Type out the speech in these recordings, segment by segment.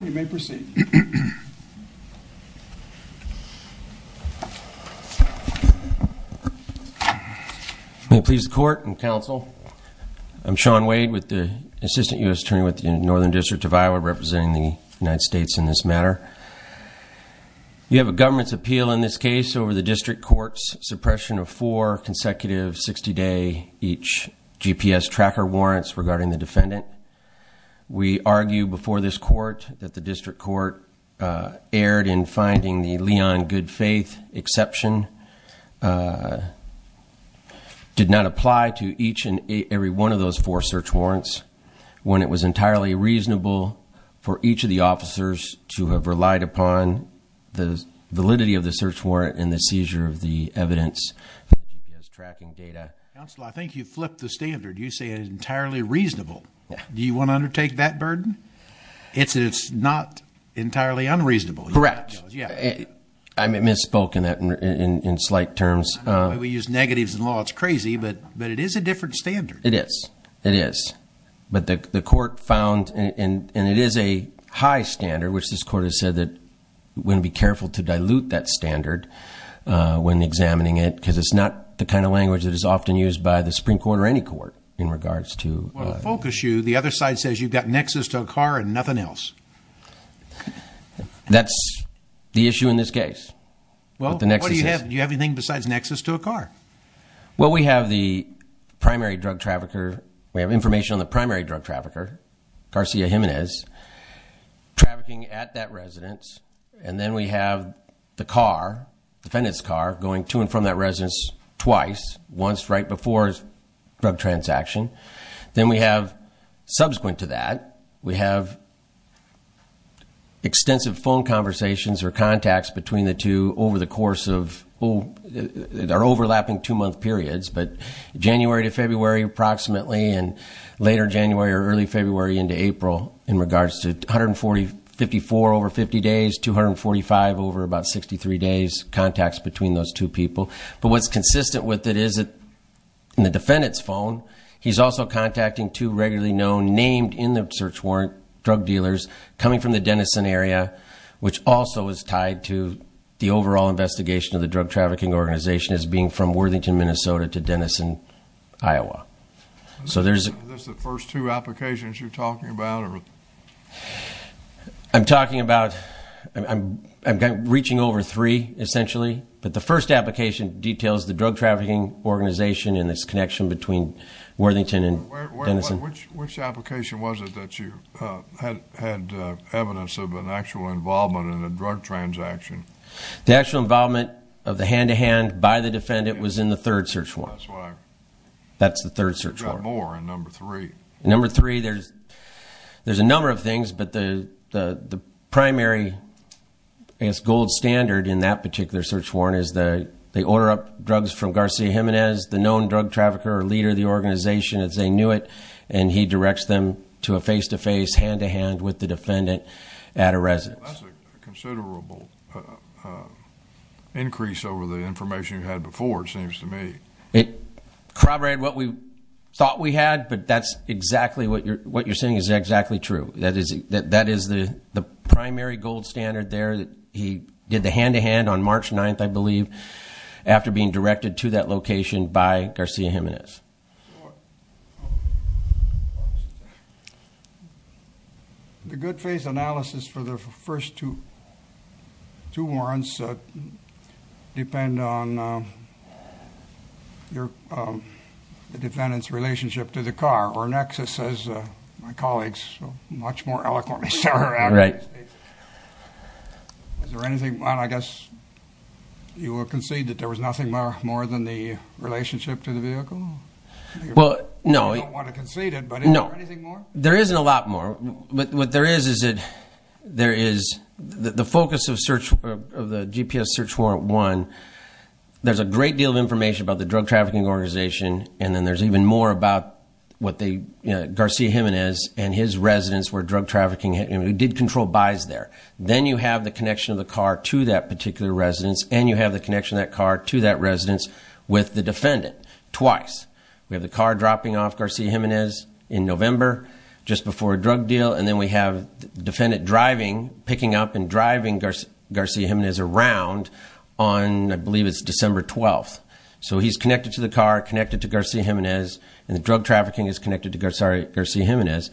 You may proceed. May it please the court and counsel, I'm Sean Wade with the Assistant U.S. Attorney with the Northern District of Iowa representing the United States in this matter. We have a government's appeal in this case over the district court's suppression of four consecutive 60-day each GPS tracker warrants regarding the defendant. We argue before this court that the district court erred in finding the Leon Good Faith exception. Did not apply to each and every one of those four search warrants when it was entirely reasonable for each of the officers to have relied upon the validity of the search warrant and the seizure of the evidence tracking data. Counsel, I think you flipped the standard. You say it's entirely reasonable. Do you want to undertake that burden? It's not entirely unreasonable. Correct. I misspoke in that in slight terms. We use negatives in law. It's crazy, but it is a different standard. It is. It is. But the court found, and it is a high standard, which this court has said that we're going to be careful to dilute that standard when examining it because it's not the kind of language that is often used by the Supreme Court or any court in regards to- Well, to focus you, the other side says you've got nexus to a car and nothing else. That's the issue in this case. Well, what do you have? Do you have anything besides nexus to a car? Well, we have the primary drug trafficker. We have information on the primary drug trafficker, Garcia Jimenez, trafficking at that residence. And then we have the car, defendant's car, going to and from that residence twice, once right before drug transaction. Then we have, subsequent to that, we have extensive phone conversations or contacts between the two over the course of- they're overlapping two-month periods, but January to February, approximately, and later January or early February into April in regards to 144 over 50 days, 245 over about 63 days, contacts between those two people. But what's consistent with it is that in the defendant's phone, he's also contacting two regularly known, named in the search warrant, drug dealers coming from the Denison area, which also is tied to the overall investigation of the drug trafficking organization as being from Worthington, Minnesota to Denison, Iowa. Are those the first two applications you're talking about? I'm talking about- I'm reaching over three, essentially. But the first application details the drug trafficking organization and its connection between Worthington and Denison. Which application was it that you had evidence of an actual involvement in a drug transaction? The actual involvement of the hand-to-hand by the defendant was in the third search warrant. That's the third search warrant. You've got more in number three. Number three, there's a number of things, but the primary, I guess, gold standard in that particular search warrant is they order up drugs from Garcia Jimenez, the known drug trafficker or leader of the organization as they knew it, and he directs them to a face-to-face, hand-to-hand with the defendant at a residence. That's a considerable increase over the information you had before, it seems to me. It corroborated what we thought we had, but that's exactly what you're saying is exactly true. That is the primary gold standard there. He did the hand-to-hand on March 9th, I believe, after being directed to that location by Garcia Jimenez. The good-faith analysis for the first two warrants depend on the defendant's relationship to the car, or Nexus, as my colleagues much more eloquently say. Right. Is there anything more? I guess you will concede that there was nothing more than the relationship to the vehicle? Well, no. You don't want to concede it, but is there anything more? There isn't a lot more. What there is is the focus of the GPS search warrant one, there's a great deal of information about the drug trafficking organization, and then there's even more about Garcia Jimenez and his residence where drug trafficking did control buys there. Then you have the connection of the car to that particular residence, and you have the connection of that car to that residence with the defendant twice. We have the car dropping off Garcia Jimenez in November, just before a drug deal, and then we have the defendant picking up and driving Garcia Jimenez around on, I believe it's December 12th. So he's connected to the car, connected to Garcia Jimenez, and the drug trafficking is connected to Garcia Jimenez.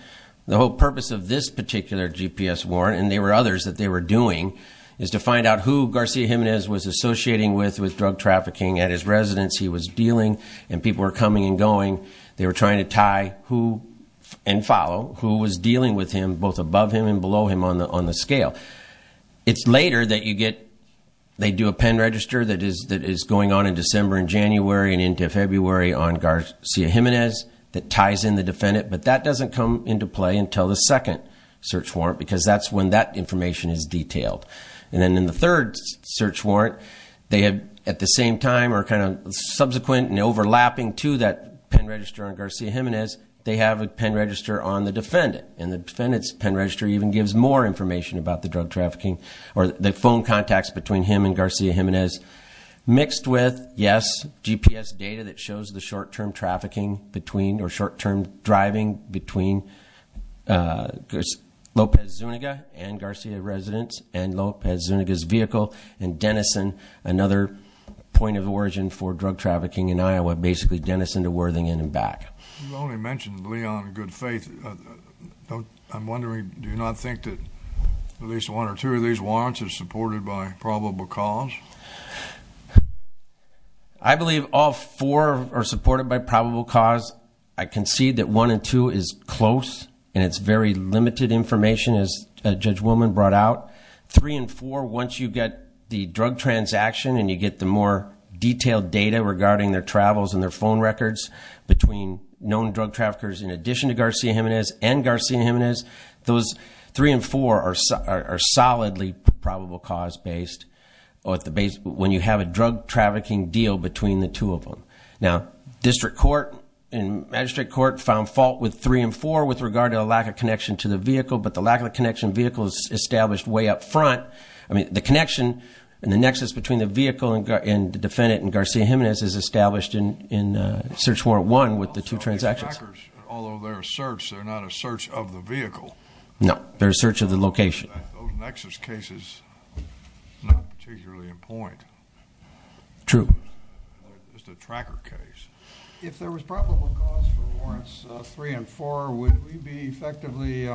The whole purpose of this particular GPS warrant, and there were others that they were doing, is to find out who Garcia Jimenez was associating with with drug trafficking at his residence he was dealing, and people were coming and going. They were trying to tie and follow who was dealing with him, both above him and below him on the scale. It's later that you get, they do a pen register that is going on in December and January and into February on Garcia Jimenez that ties in the defendant, but that doesn't come into play until the second search warrant because that's when that information is detailed. And then in the third search warrant, they have, at the same time, or kind of subsequent and overlapping to that pen register on Garcia Jimenez, they have a pen register on the defendant, and the defendant's pen register even gives more information about the drug trafficking or the phone contacts between him and Garcia Jimenez mixed with, yes, GPS data that shows the short-term trafficking between or short-term driving between Lopez Zuniga and Garcia's residence and Lopez Zuniga's vehicle and Denison, another point of origin for drug trafficking in Iowa, basically Denison to Worthington and back. You've only mentioned Leon in good faith. I'm wondering, do you not think that at least one or two of these warrants are supported by probable cause? I believe all four are supported by probable cause. I concede that one and two is close, and it's very limited information, as Judge Willman brought out. Three and four, once you get the drug transaction and you get the more detailed data regarding their travels and their phone records between known drug traffickers in addition to Garcia Jimenez and Garcia Jimenez, those three and four are solidly probable cause-based when you have a drug trafficking deal between the two of them. Now, district court and magistrate court found fault with three and four with regard to a lack of connection to the vehicle, but the lack of connection vehicle is established way up front. I mean, the connection and the nexus between the vehicle and the defendant and Garcia Jimenez is established in Search Warrant 1 with the two transactions. Although they're a search, they're not a search of the vehicle. No, they're a search of the location. Those nexus cases are not particularly in point. True. Just a tracker case. If there was probable cause for warrants three and four, would we be effectively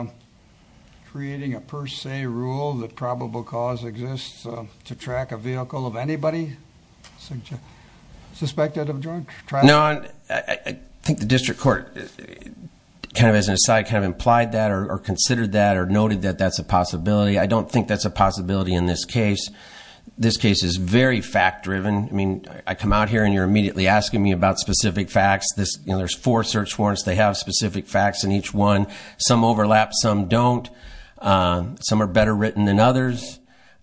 creating a per se rule that probable cause exists to track a vehicle of anybody suspected of drug trafficking? No. I think the district court kind of as an aside kind of implied that or considered that or noted that that's a possibility. I don't think that's a possibility in this case. This case is very fact-driven. I mean, I come out here and you're immediately asking me about specific facts. There's four search warrants. They have specific facts in each one. Some overlap. Some don't. Some are better written than others.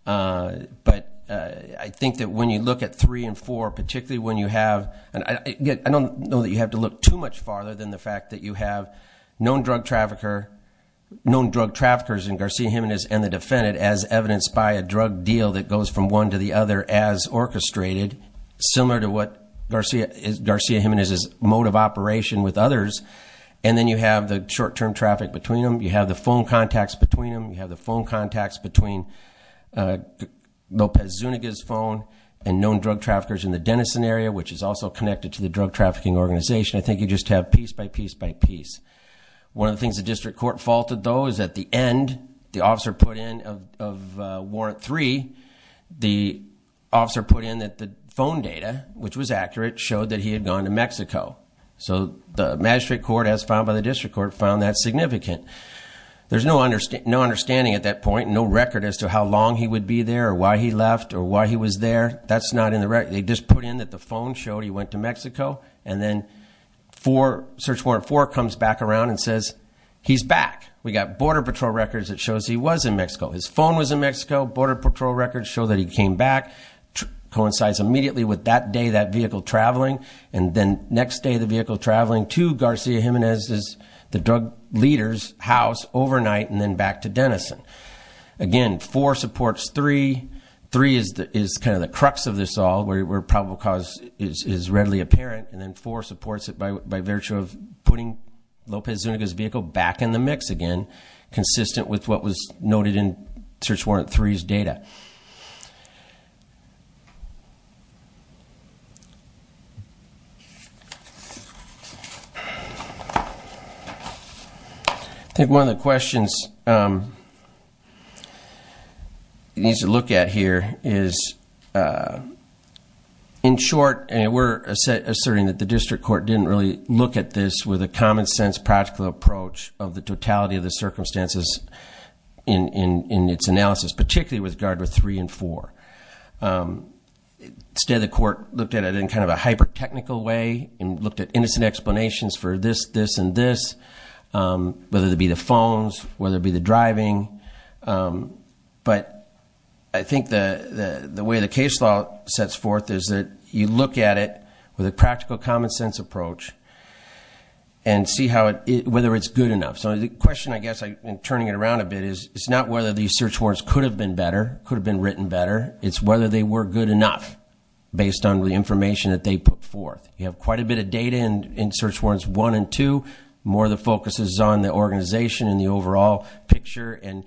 But I think that when you look at three and four, particularly when you have, and I don't know that you have to look too much farther than the fact that you have known drug traffickers in Garcia Jimenez and the defendant as evidenced by a drug deal that goes from one to the other as orchestrated, similar to what Garcia Jimenez's mode of operation with others. And then you have the short-term traffic between them. You have the phone contacts between them. You have the phone contacts between Lopez Zuniga's phone and known drug traffickers in the Denison area, which is also connected to the drug trafficking organization. I think you just have piece by piece by piece. One of the things the district court faulted, though, is at the end, the officer put in of warrant three, the officer put in that the phone data, which was accurate, showed that he had gone to Mexico. So the magistrate court, as found by the district court, found that significant. There's no understanding at that point, no record as to how long he would be there or why he left or why he was there. That's not in the record. They just put in that the phone showed he went to Mexico, and then search warrant four comes back around and says, he's back. We got border patrol records that shows he was in Mexico. His phone was in Mexico. Border patrol records show that he came back. Coincides immediately with that day, that vehicle traveling. And then next day, the vehicle traveling to Garcia Jimenez's, the drug leader's, house overnight, and then back to Denison. Again, four supports three. Three is kind of the crux of this all, where probable cause is readily apparent. And then four supports it by virtue of putting Lopez Zuniga's vehicle back in the mix again, consistent with what was noted in search warrant three's data. I think one of the questions you need to look at here is, in short, and we're asserting that the district court didn't really look at this with a common sense, practical approach of the totality of the circumstances in its analysis, particularly with regard to three and four. Instead, the court looked at it in kind of a hyper-technical way and looked at innocent explanations for this, this, and this, whether it be the phones, whether it be the driving. But I think the way the case law sets forth is that you look at it with a practical, common sense approach and see whether it's good enough. So the question, I guess, in turning it around a bit is, it's not whether these search warrants could have been better, could have been written better. It's whether they were good enough based on the information that they put forth. You have quite a bit of data in search warrants one and two. More of the focus is on the organization and the overall picture and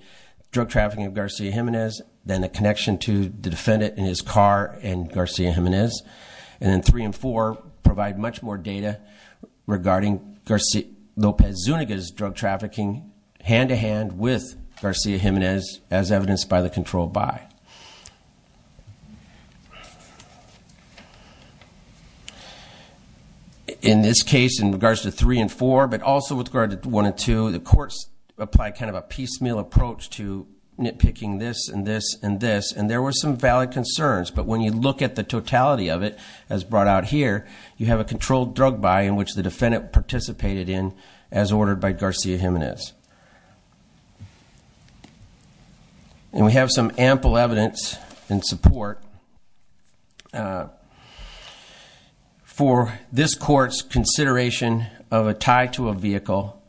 drug trafficking of Garcia Jimenez. Then the connection to the defendant and his car and Garcia Jimenez. And then three and four provide much more data regarding Lopez Zuniga's drug trafficking hand-to-hand with Garcia Jimenez, as evidenced by the control by. In this case, in regards to three and four, but also with regard to one and two, the courts apply kind of a piecemeal approach to nitpicking this and this and this, and there were some valid concerns. But when you look at the totality of it, as brought out here, you have a controlled drug by in which the defendant participated in as ordered by Garcia Jimenez. And we have some ample evidence in support for this court's consideration of a tie to a vehicle,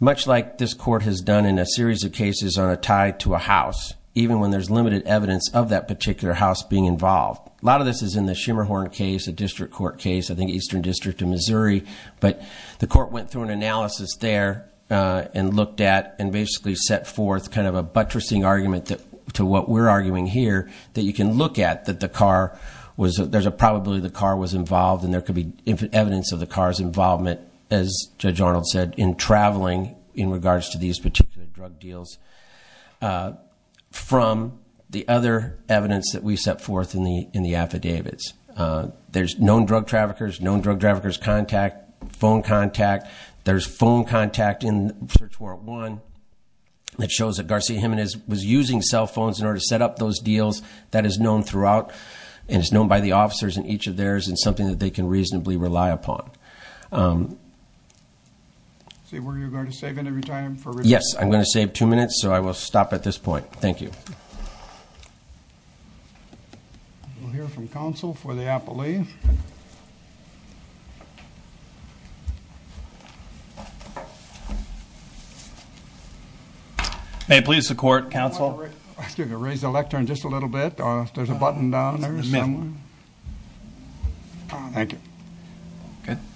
much like this court has done in a series of cases on a tie to a house, even when there's limited evidence of that particular house being involved. A lot of this is in the Schimmerhorn case, a district court case, I think Eastern District of Missouri. But the court went through an analysis there and looked at and basically set forth kind of a buttressing argument to what we're arguing here, that you can look at that the car was, there's a probability the car was involved and there could be evidence of the car's involvement, as Judge Arnold said, in traveling in regards to these particular drug deals from the other evidence that we set forth in the affidavits. There's known drug traffickers, known drug traffickers' contact, phone contact. There's phone contact in Search Warrant 1 that shows that Garcia Jimenez was using cell phones in order to set up those deals. That is known throughout, and it's known by the officers in each of theirs, and something that they can reasonably rely upon. So were you going to save any time? Yes, I'm going to save two minutes, so I will stop at this point. Thank you. We'll hear from counsel for the appellee. May it please the court, counsel. I'm going to raise the lectern just a little bit. There's a button down there. Thank you.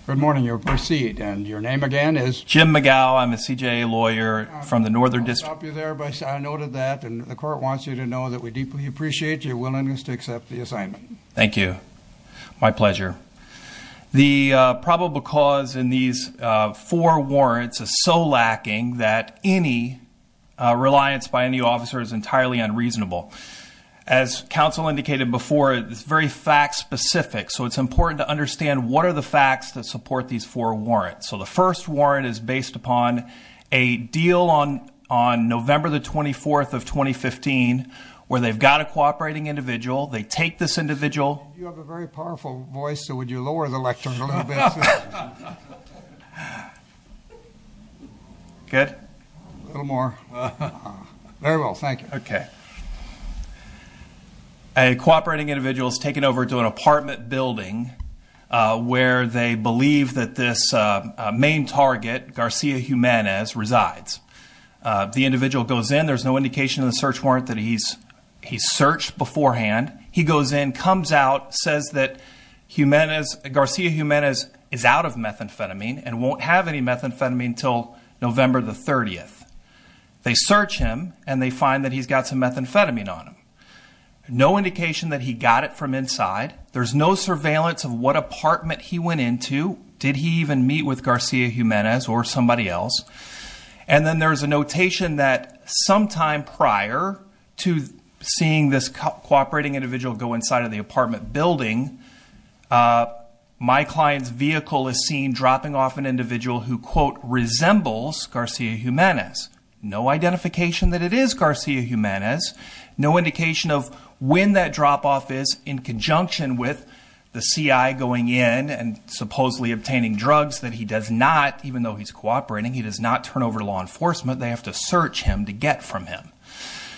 Good morning. You'll proceed, and your name again is? Jim McGow. I'm a CJA lawyer from the Northern District. I'll stop you there, but I noted that, and the court wants you to know that we deeply appreciate your willingness to accept the assignment. Thank you. My pleasure. The probable cause in these four warrants is so lacking that any reliance by any officer is entirely unreasonable. As counsel indicated before, it's very fact-specific, so it's important to understand what are the facts that support these four warrants. So the first warrant is based upon a deal on November the 24th of 2015 where they've got a cooperating individual. They take this individual. You have a very powerful voice, so would you lower the lectern a little bit? Good? A little more. Very well. Thank you. Okay. A cooperating individual is taken over to an apartment building where they believe that this main target, Garcia Jimenez, resides. The individual goes in. There's no indication in the search warrant that he's searched beforehand. He goes in, comes out, says that Garcia Jimenez is out of methamphetamine and won't have any methamphetamine until November the 30th. They search him, and they find that he's got some methamphetamine on him. No indication that he got it from inside. There's no surveillance of what apartment he went into. Did he even meet with Garcia Jimenez or somebody else? And then there's a notation that sometime prior to seeing this cooperating individual go inside of the apartment building, my client's vehicle is seen dropping off an individual who, quote, resembles Garcia Jimenez. No identification that it is Garcia Jimenez. No indication of when that drop-off is in conjunction with the CI going in and supposedly obtaining drugs that he does not, even though he's cooperating, he does not turn over to law enforcement. They have to search him to get from him.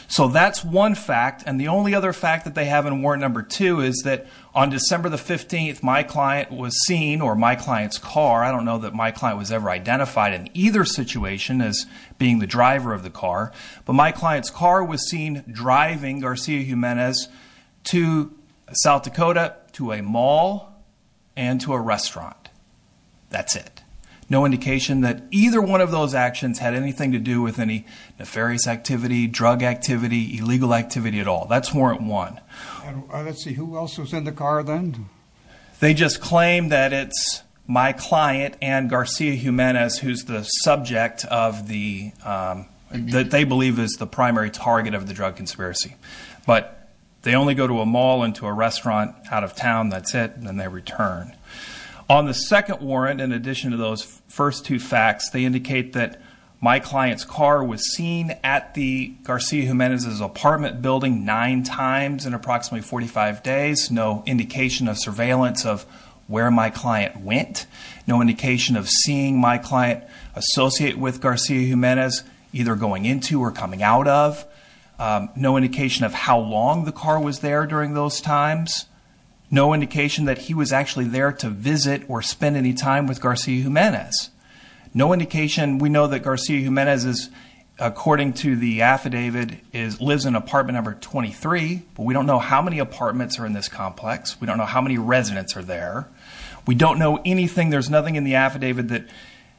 So that's one fact, and the only other fact that they have in warrant number two is that on December the 15th, my client was seen, or my client's car, I don't know that my client was ever identified in either situation as being the driver of the car, but my client's car was seen driving Garcia Jimenez to South Dakota to a mall and to a restaurant. That's it. No indication that either one of those actions had anything to do with any nefarious activity, drug activity, illegal activity at all. That's warrant one. Let's see. Who else was in the car then? They just claim that it's my client and Garcia Jimenez, who's the subject of the, that they believe is the primary target of the drug conspiracy. But they only go to a mall and to a restaurant out of town. That's it. And then they return. On the second warrant, in addition to those first two facts, they indicate that my client's car was seen at the Garcia Jimenez's apartment building nine times in approximately 45 days. No indication of surveillance of where my client went. No indication of seeing my client associate with Garcia Jimenez either going into or coming out of. No indication of how long the car was there during those times. No indication that he was actually there to visit or spend any time with Garcia Jimenez. No indication. We know that Garcia Jimenez is, according to the affidavit, lives in apartment number 23. But we don't know how many apartments are in this complex. We don't know how many residents are there. We don't know anything. There's nothing in the affidavit that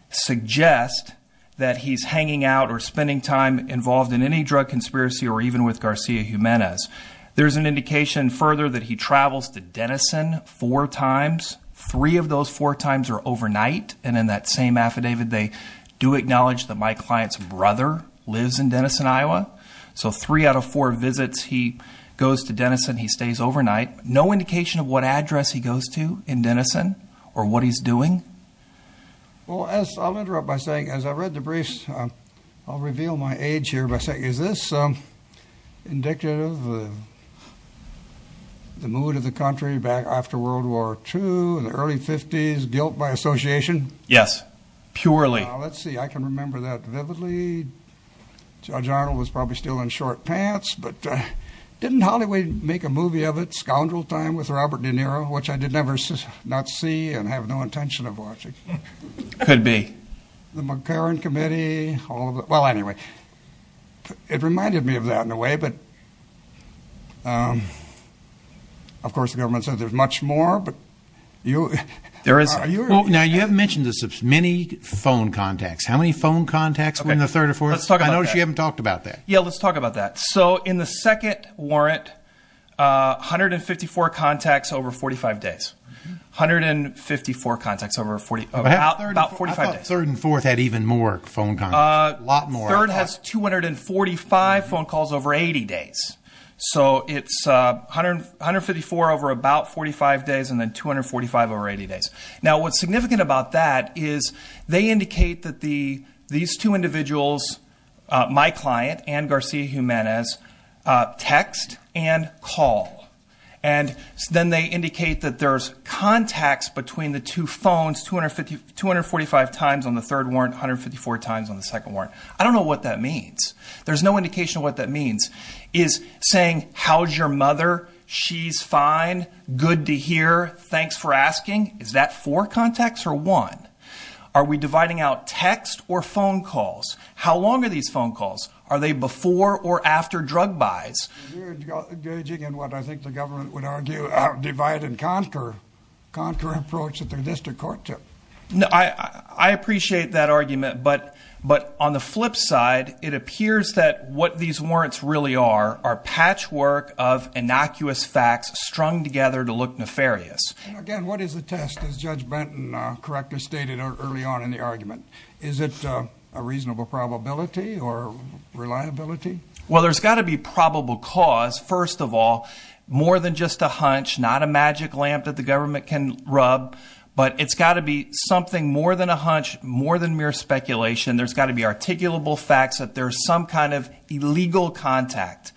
suggests that he's hanging out or spending time involved in any drug conspiracy or even with Garcia Jimenez. There's an indication further that he travels to Denison four times. Three of those four times are overnight. And in that same affidavit, they do acknowledge that my client's brother lives in Denison, Iowa. So three out of four visits, he goes to Denison. He stays overnight. No indication of what address he goes to in Denison or what he's doing. Well, I'll interrupt by saying, as I read the briefs, I'll reveal my age here. Is this indicative of the mood of the country back after World War II, the early 50s, guilt by association? Yes, purely. Let's see. I can remember that vividly. Judge Arnold was probably still in short pants. Didn't Hollywood make a movie of it, Scoundrel Time, with Robert De Niro, which I did not see and have no intention of watching? Could be. The McCarran Committee. Well, anyway, it reminded me of that in a way. But, of course, the government says there's much more. Now, you have mentioned this, many phone contacts. How many phone contacts were in the third or fourth? Let's talk about that. I noticed you haven't talked about that. Yeah, let's talk about that. So in the second warrant, 154 contacts over 45 days. 154 contacts over about 45 days. I thought third and fourth had even more phone contacts, a lot more. Third has 245 phone calls over 80 days. So it's 154 over about 45 days and then 245 over 80 days. Now, what's significant about that is they indicate that these two individuals, my client and Garcia-Jimenez, text and call. And then they indicate that there's contacts between the two phones, 245 times on the third warrant, 154 times on the second warrant. I don't know what that means. There's no indication of what that means. Is saying, how's your mother? She's fine. Good to hear. Thanks for asking. Is that four contacts or one? Are we dividing out text or phone calls? How long are these phone calls? Are they before or after drug buys? I appreciate that argument. But on the flip side, it appears that what these warrants really are, are patchwork of innocuous facts strung together to look nefarious. Again, what is the test, as Judge Benton correctly stated early on in the argument? Is it a reasonable probability or reliability? Well, there's got to be probable cause, first of all. More than just a hunch, not a magic lamp that the government can rub. But it's got to be something more than a hunch, more than mere speculation. There's got to be articulable facts that there's some kind of illegal contact,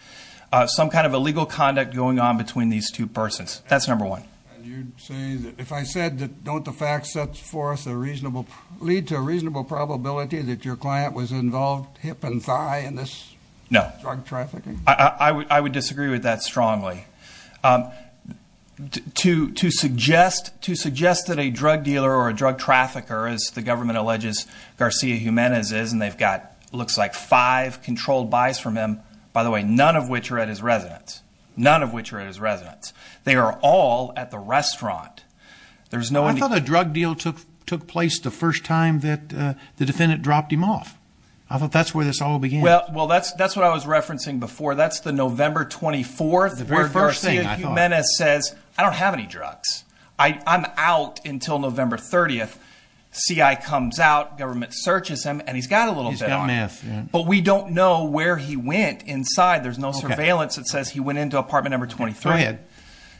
some kind of illegal conduct going on between these two persons. That's number one. And you'd say that if I said that don't the facts set forth a reasonable, lead to a reasonable probability that your client was involved hip and thigh in this drug trafficking? No. I would disagree with that strongly. To suggest that a drug dealer or a drug trafficker, as the government alleges Garcia Jimenez is, and they've got looks like five controlled buys from him, by the way, none of which are at his residence. None of which are at his residence. They are all at the restaurant. I thought a drug deal took place the first time that the defendant dropped him off. I thought that's where this all began. Well, that's what I was referencing before. That's the November 24th where Garcia Jimenez says, I don't have any drugs. I'm out until November 30th. CI comes out, government searches him, and he's got a little bit on him. But we don't know where he went inside. There's no surveillance that says he went into apartment number 23. Go ahead.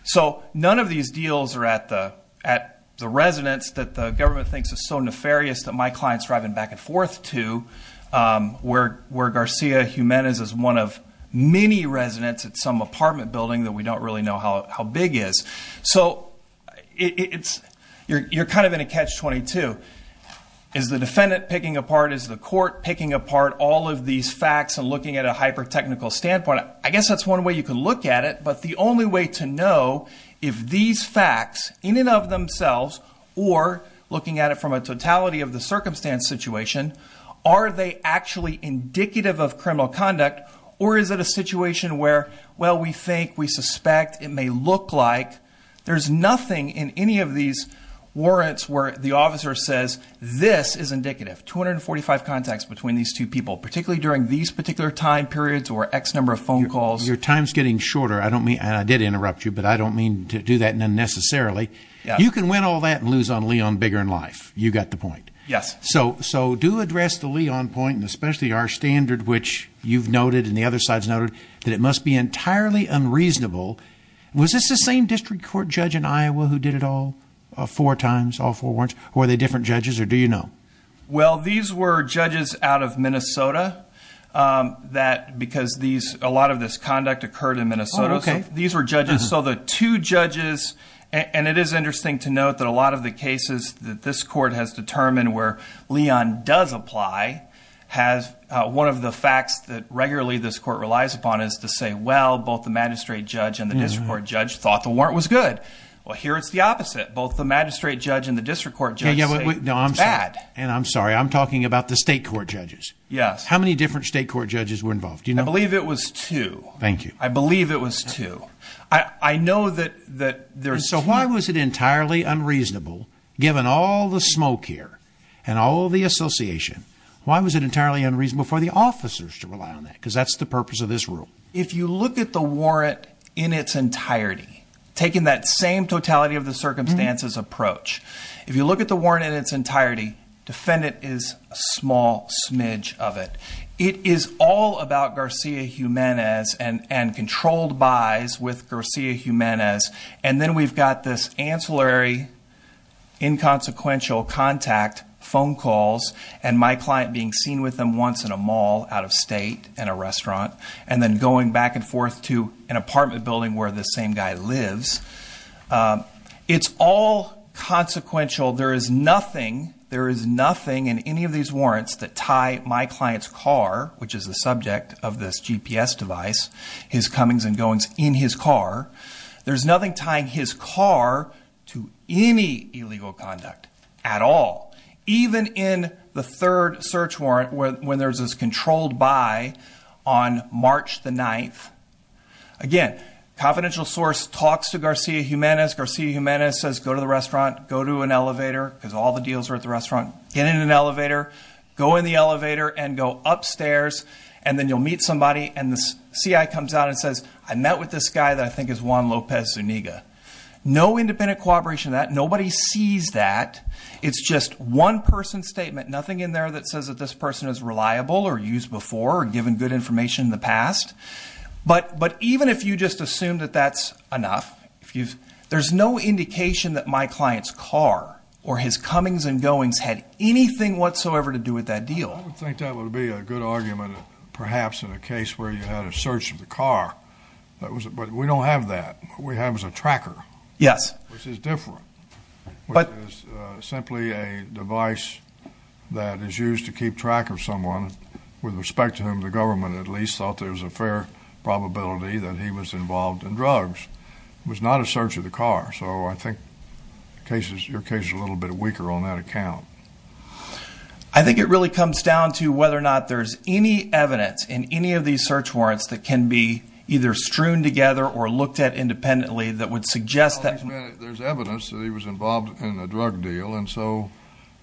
So, none of these deals are at the residence that the government thinks is so nefarious that my client's driving back and forth to, where Garcia Jimenez is one of many residents at some apartment building that we don't really know how big is. So, you're kind of in a catch-22. Is the defendant picking apart? Is the court picking apart all of these facts and looking at a hyper-technical standpoint? I guess that's one way you can look at it. But the only way to know if these facts in and of themselves or looking at it from a totality of the circumstance situation, are they actually indicative of criminal conduct? Or is it a situation where, well, we think, we suspect, it may look like? There's nothing in any of these warrants where the officer says this is indicative. 245 contacts between these two people, particularly during these particular time periods or X number of phone calls. Your time's getting shorter. And I did interrupt you, but I don't mean to do that unnecessarily. You can win all that and lose on Leon bigger in life. You got the point. Yes. So, do address the Leon point, and especially our standard, which you've noted and the other side's noted, that it must be entirely unreasonable. Was this the same district court judge in Iowa who did it all four times, all four warrants? Were they different judges, or do you know? Well, these were judges out of Minnesota, because a lot of this conduct occurred in Minnesota. Oh, okay. These were judges. So, the two judges, and it is interesting to note that a lot of the cases that this court has determined where Leon does apply, has one of the facts that regularly this court relies upon is to say, well, both the magistrate judge and the district court judge thought the warrant was good. Well, here it's the opposite. Both the magistrate judge and the district court judge say it was bad. No, I'm sorry. And I'm sorry. I'm talking about the state court judges. Yes. How many different state court judges were involved? Do you know? I believe it was two. Thank you. I believe it was two. I know that there's two. So, why was it entirely unreasonable, given all the smoke here and all the association, why was it entirely unreasonable for the officers to rely on that? Because that's the purpose of this rule. If you look at the warrant in its entirety, taking that same totality of the circumstances approach, if you look at the warrant in its entirety, defendant is a small smidge of it. It is all about Garcia-Jimenez and controlled buys with Garcia-Jimenez. And then we've got this ancillary inconsequential contact, phone calls, and my client being seen with them once in a mall out of state in a restaurant, and then going back and forth to an apartment building where this same guy lives. It's all consequential. There is nothing in any of these warrants that tie my client's car, which is the subject of this GPS device, his comings and goings in his car, there's nothing tying his car to any illegal conduct at all. Even in the third search warrant, when there's this controlled buy on March the 9th, again, confidential source talks to Garcia-Jimenez. Garcia-Jimenez says, go to the restaurant, go to an elevator, because all the deals are at the restaurant, get in an elevator, go in the elevator and go upstairs, and then you'll meet somebody. And the CI comes out and says, I met with this guy that I think is Juan Lopez Zuniga. No independent cooperation in that. Nobody sees that. It's just one person's statement. Nothing in there that says that this person is reliable or used before or given good information in the past. But even if you just assume that that's enough, there's no indication that my client's car or his comings and goings had anything whatsoever to do with that deal. I would think that would be a good argument, perhaps, in a case where you had a search of the car. But we don't have that. What we have is a tracker. Yes. Which is different, which is simply a device that is used to keep track of someone with respect to whom the government at least thought there was a fair probability that he was involved in drugs. It was not a search of the car. So I think your case is a little bit weaker on that account. I think it really comes down to whether or not there's any evidence in any of these search warrants that can be either strewn together or looked at independently that would suggest that. There's evidence that he was involved in a drug deal. And so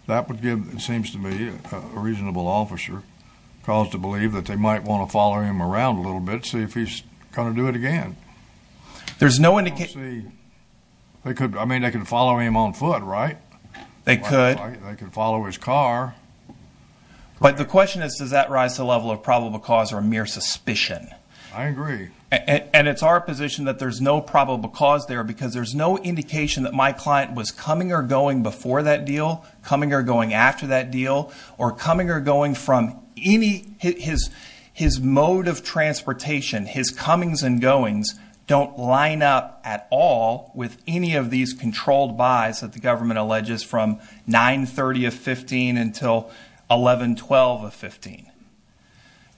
that would give, it seems to me, a reasonable officer cause to believe that they might want to follow him around a little bit, see if he's going to do it again. There's no indication. I mean, they could follow him on foot, right? They could. They could follow his car. But the question is, does that rise to the level of probable cause or mere suspicion? I agree. And it's our position that there's no probable cause there because there's no indication that my client was coming or going before that deal, coming or going after that deal, or coming or going from any. His mode of transportation, his comings and goings don't line up at all with any of these controlled buys that the government alleges from 9.30 of 15 until 11.12 of 15.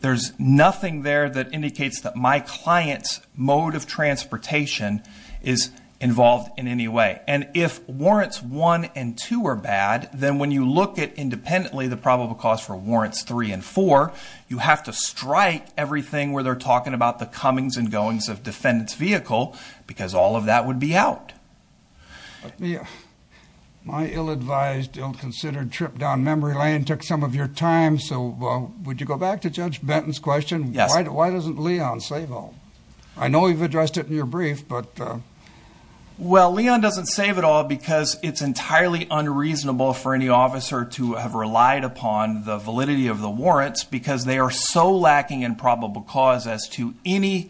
There's nothing there that indicates that my client's mode of transportation is involved in any way. And if warrants one and two are bad, then when you look at independently the probable cause for warrants three and four, you have to strike everything where they're talking about the comings and goings of defendant's vehicle because all of that would be out. My ill-advised, ill-considered trip down memory lane took some of your time, so would you go back to Judge Benton's question? Yes. Why doesn't Leon save all? I know you've addressed it in your brief, but. Well, Leon doesn't save it all because it's entirely unreasonable for any officer to have relied upon the validity of the warrants because they are so lacking in probable cause as to any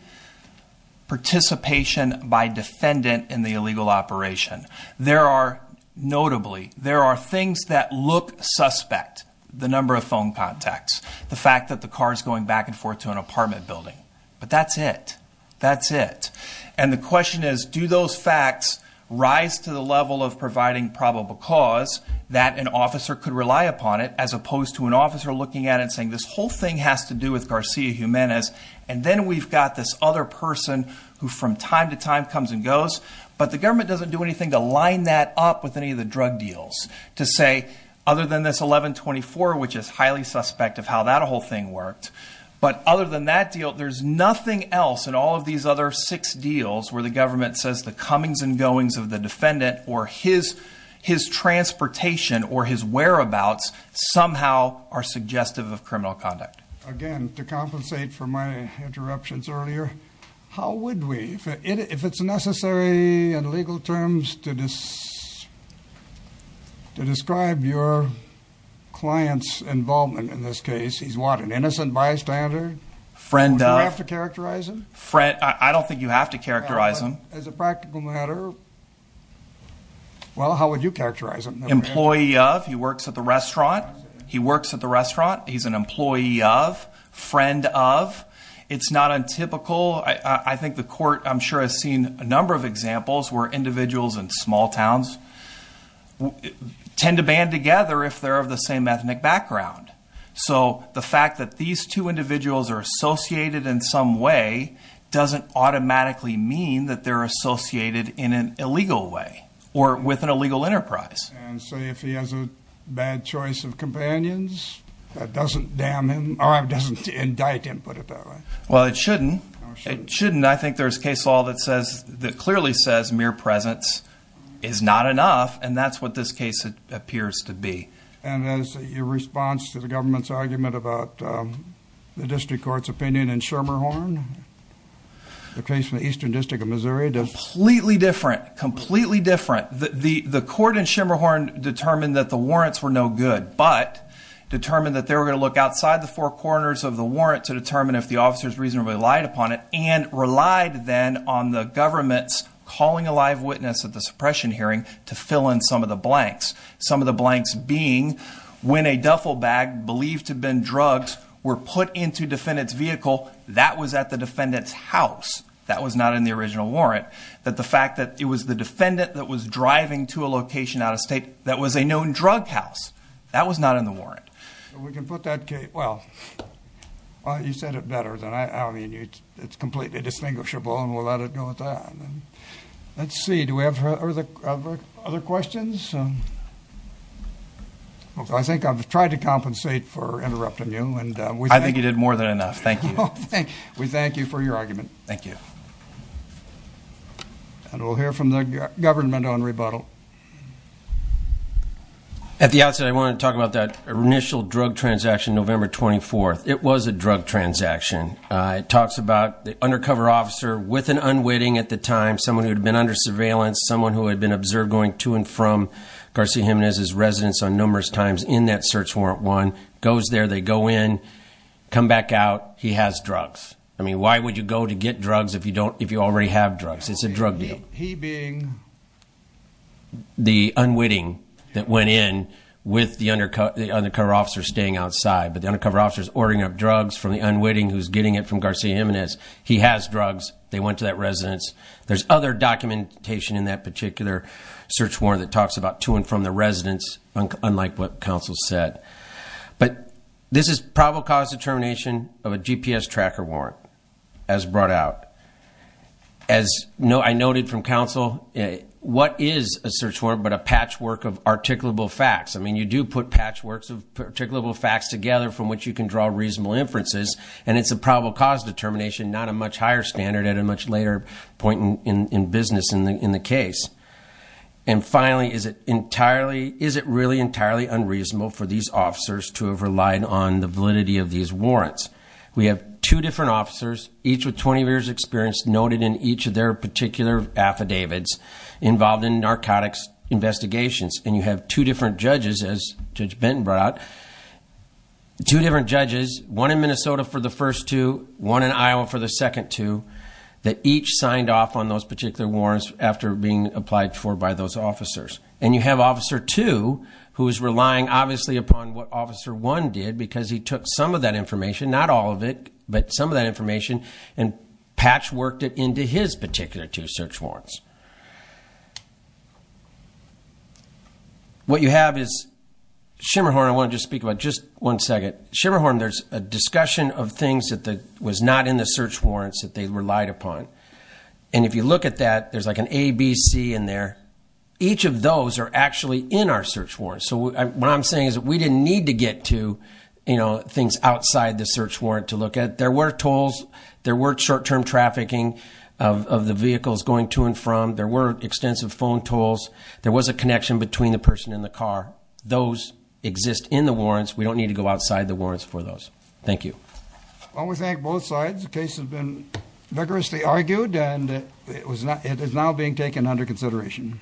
participation by defendant in the illegal operation. There are notably, there are things that look suspect, the number of phone contacts, the fact that the car is going back and forth to an apartment building, but that's it. That's it. And the question is, do those facts rise to the level of providing probable cause that an officer could rely upon it as opposed to an officer looking at it and saying this whole thing has to do with Garcia Jimenez, and then we've got this other person who from time to time comes and goes, but the government doesn't do anything to line that up with any of the drug deals to say, other than this 1124, which is highly suspect of how that whole thing worked. But other than that deal, there's nothing else in all of these other six deals where the government says the comings and goings of the defendant or his transportation or his whereabouts somehow are suggestive of criminal conduct. Again, to compensate for my interruptions earlier, how would we, if it's necessary in legal terms to describe your client's involvement in this case, he's what, an innocent bystander? Friend of? Would you have to characterize him? I don't think you have to characterize him. As a practical matter, well, how would you characterize him? Employee of, he works at the restaurant. He works at the restaurant. He's an employee of, friend of. It's not untypical. I think the court, I'm sure, has seen a number of examples where individuals in small towns tend to band together if they're of the same ethnic background. So the fact that these two individuals are associated in some way doesn't automatically mean that they're associated in an illegal way or with an illegal enterprise. And so if he has a bad choice of companions, that doesn't damn him or doesn't indict him, put it that way. Well, it shouldn't. It shouldn't. I think there's case law that clearly says mere presence is not enough, and that's what this case appears to be. And as your response to the government's argument about the district court's opinion in Schermerhorn, the case in the eastern district of Missouri, does it? Completely different. Completely different. The court in Schermerhorn determined that the warrants were no good but determined that they were going to look outside the four corners of the warrant to determine if the officers reasonably relied upon it and relied then on the government's calling a live witness at the suppression hearing to fill in some of the blanks. Some of the blanks being when a duffel bag believed to have been drugged were put into defendant's vehicle, that was at the defendant's house. That was not in the original warrant. That the fact that it was the defendant that was driving to a location out of state that was a known drug house, that was not in the warrant. Well, you said it better than I. I mean, it's completely distinguishable, and we'll let it go at that. Let's see. Do we have other questions? I think I've tried to compensate for interrupting you. I think you did more than enough. Thank you. We thank you for your argument. Thank you. And we'll hear from the government on rebuttal. At the outset, I want to talk about that initial drug transaction, November 24th. It was a drug transaction. It talks about the undercover officer with an unwitting at the time, someone who had been under surveillance, someone who had been observed going to and from Garcia Jimenez's residence on numerous times in that search warrant one, goes there, they go in, come back out, he has drugs. I mean, why would you go to get drugs if you already have drugs? It's a drug deal. He being the unwitting that went in with the undercover officer staying outside, but the undercover officer's ordering up drugs from the unwitting who's getting it from Garcia Jimenez. He has drugs. They went to that residence. There's other documentation in that particular search warrant that talks about to and from the residence, unlike what counsel said. But this is probable cause determination of a GPS tracker warrant, as brought out. As I noted from counsel, what is a search warrant but a patchwork of articulable facts? I mean, you do put patchworks of articulable facts together from which you can draw reasonable inferences, and it's a probable cause determination, not a much higher standard at a much later point in business in the case. And finally, is it really entirely unreasonable for these officers to have relied on the validity of these warrants? We have two different officers, each with 20 years' experience, noted in each of their particular affidavits involved in narcotics investigations. And you have two different judges, as Judge Benton brought out, two different judges, one in Minnesota for the first two, one in Iowa for the second two, that each signed off on those particular warrants after being applied for by those officers. And you have Officer 2, who is relying, obviously, upon what Officer 1 did because he took some of that information, not all of it, but some of that information, and patchworked it into his particular two search warrants. What you have is, Shimmerhorn, I want to just speak about just one second. Shimmerhorn, there's a discussion of things that was not in the search warrants that they relied upon. And if you look at that, there's like an A, B, C in there. Each of those are actually in our search warrants. So what I'm saying is that we didn't need to get to things outside the search warrant to look at. There were tolls, there were short-term trafficking of the vehicles going to and from. There were extensive phone tolls. There was a connection between the person and the car. Those exist in the warrants. We don't need to go outside the warrants for those. Thank you. Well, we thank both sides. The case has been vigorously argued, and it is now being taken under consideration.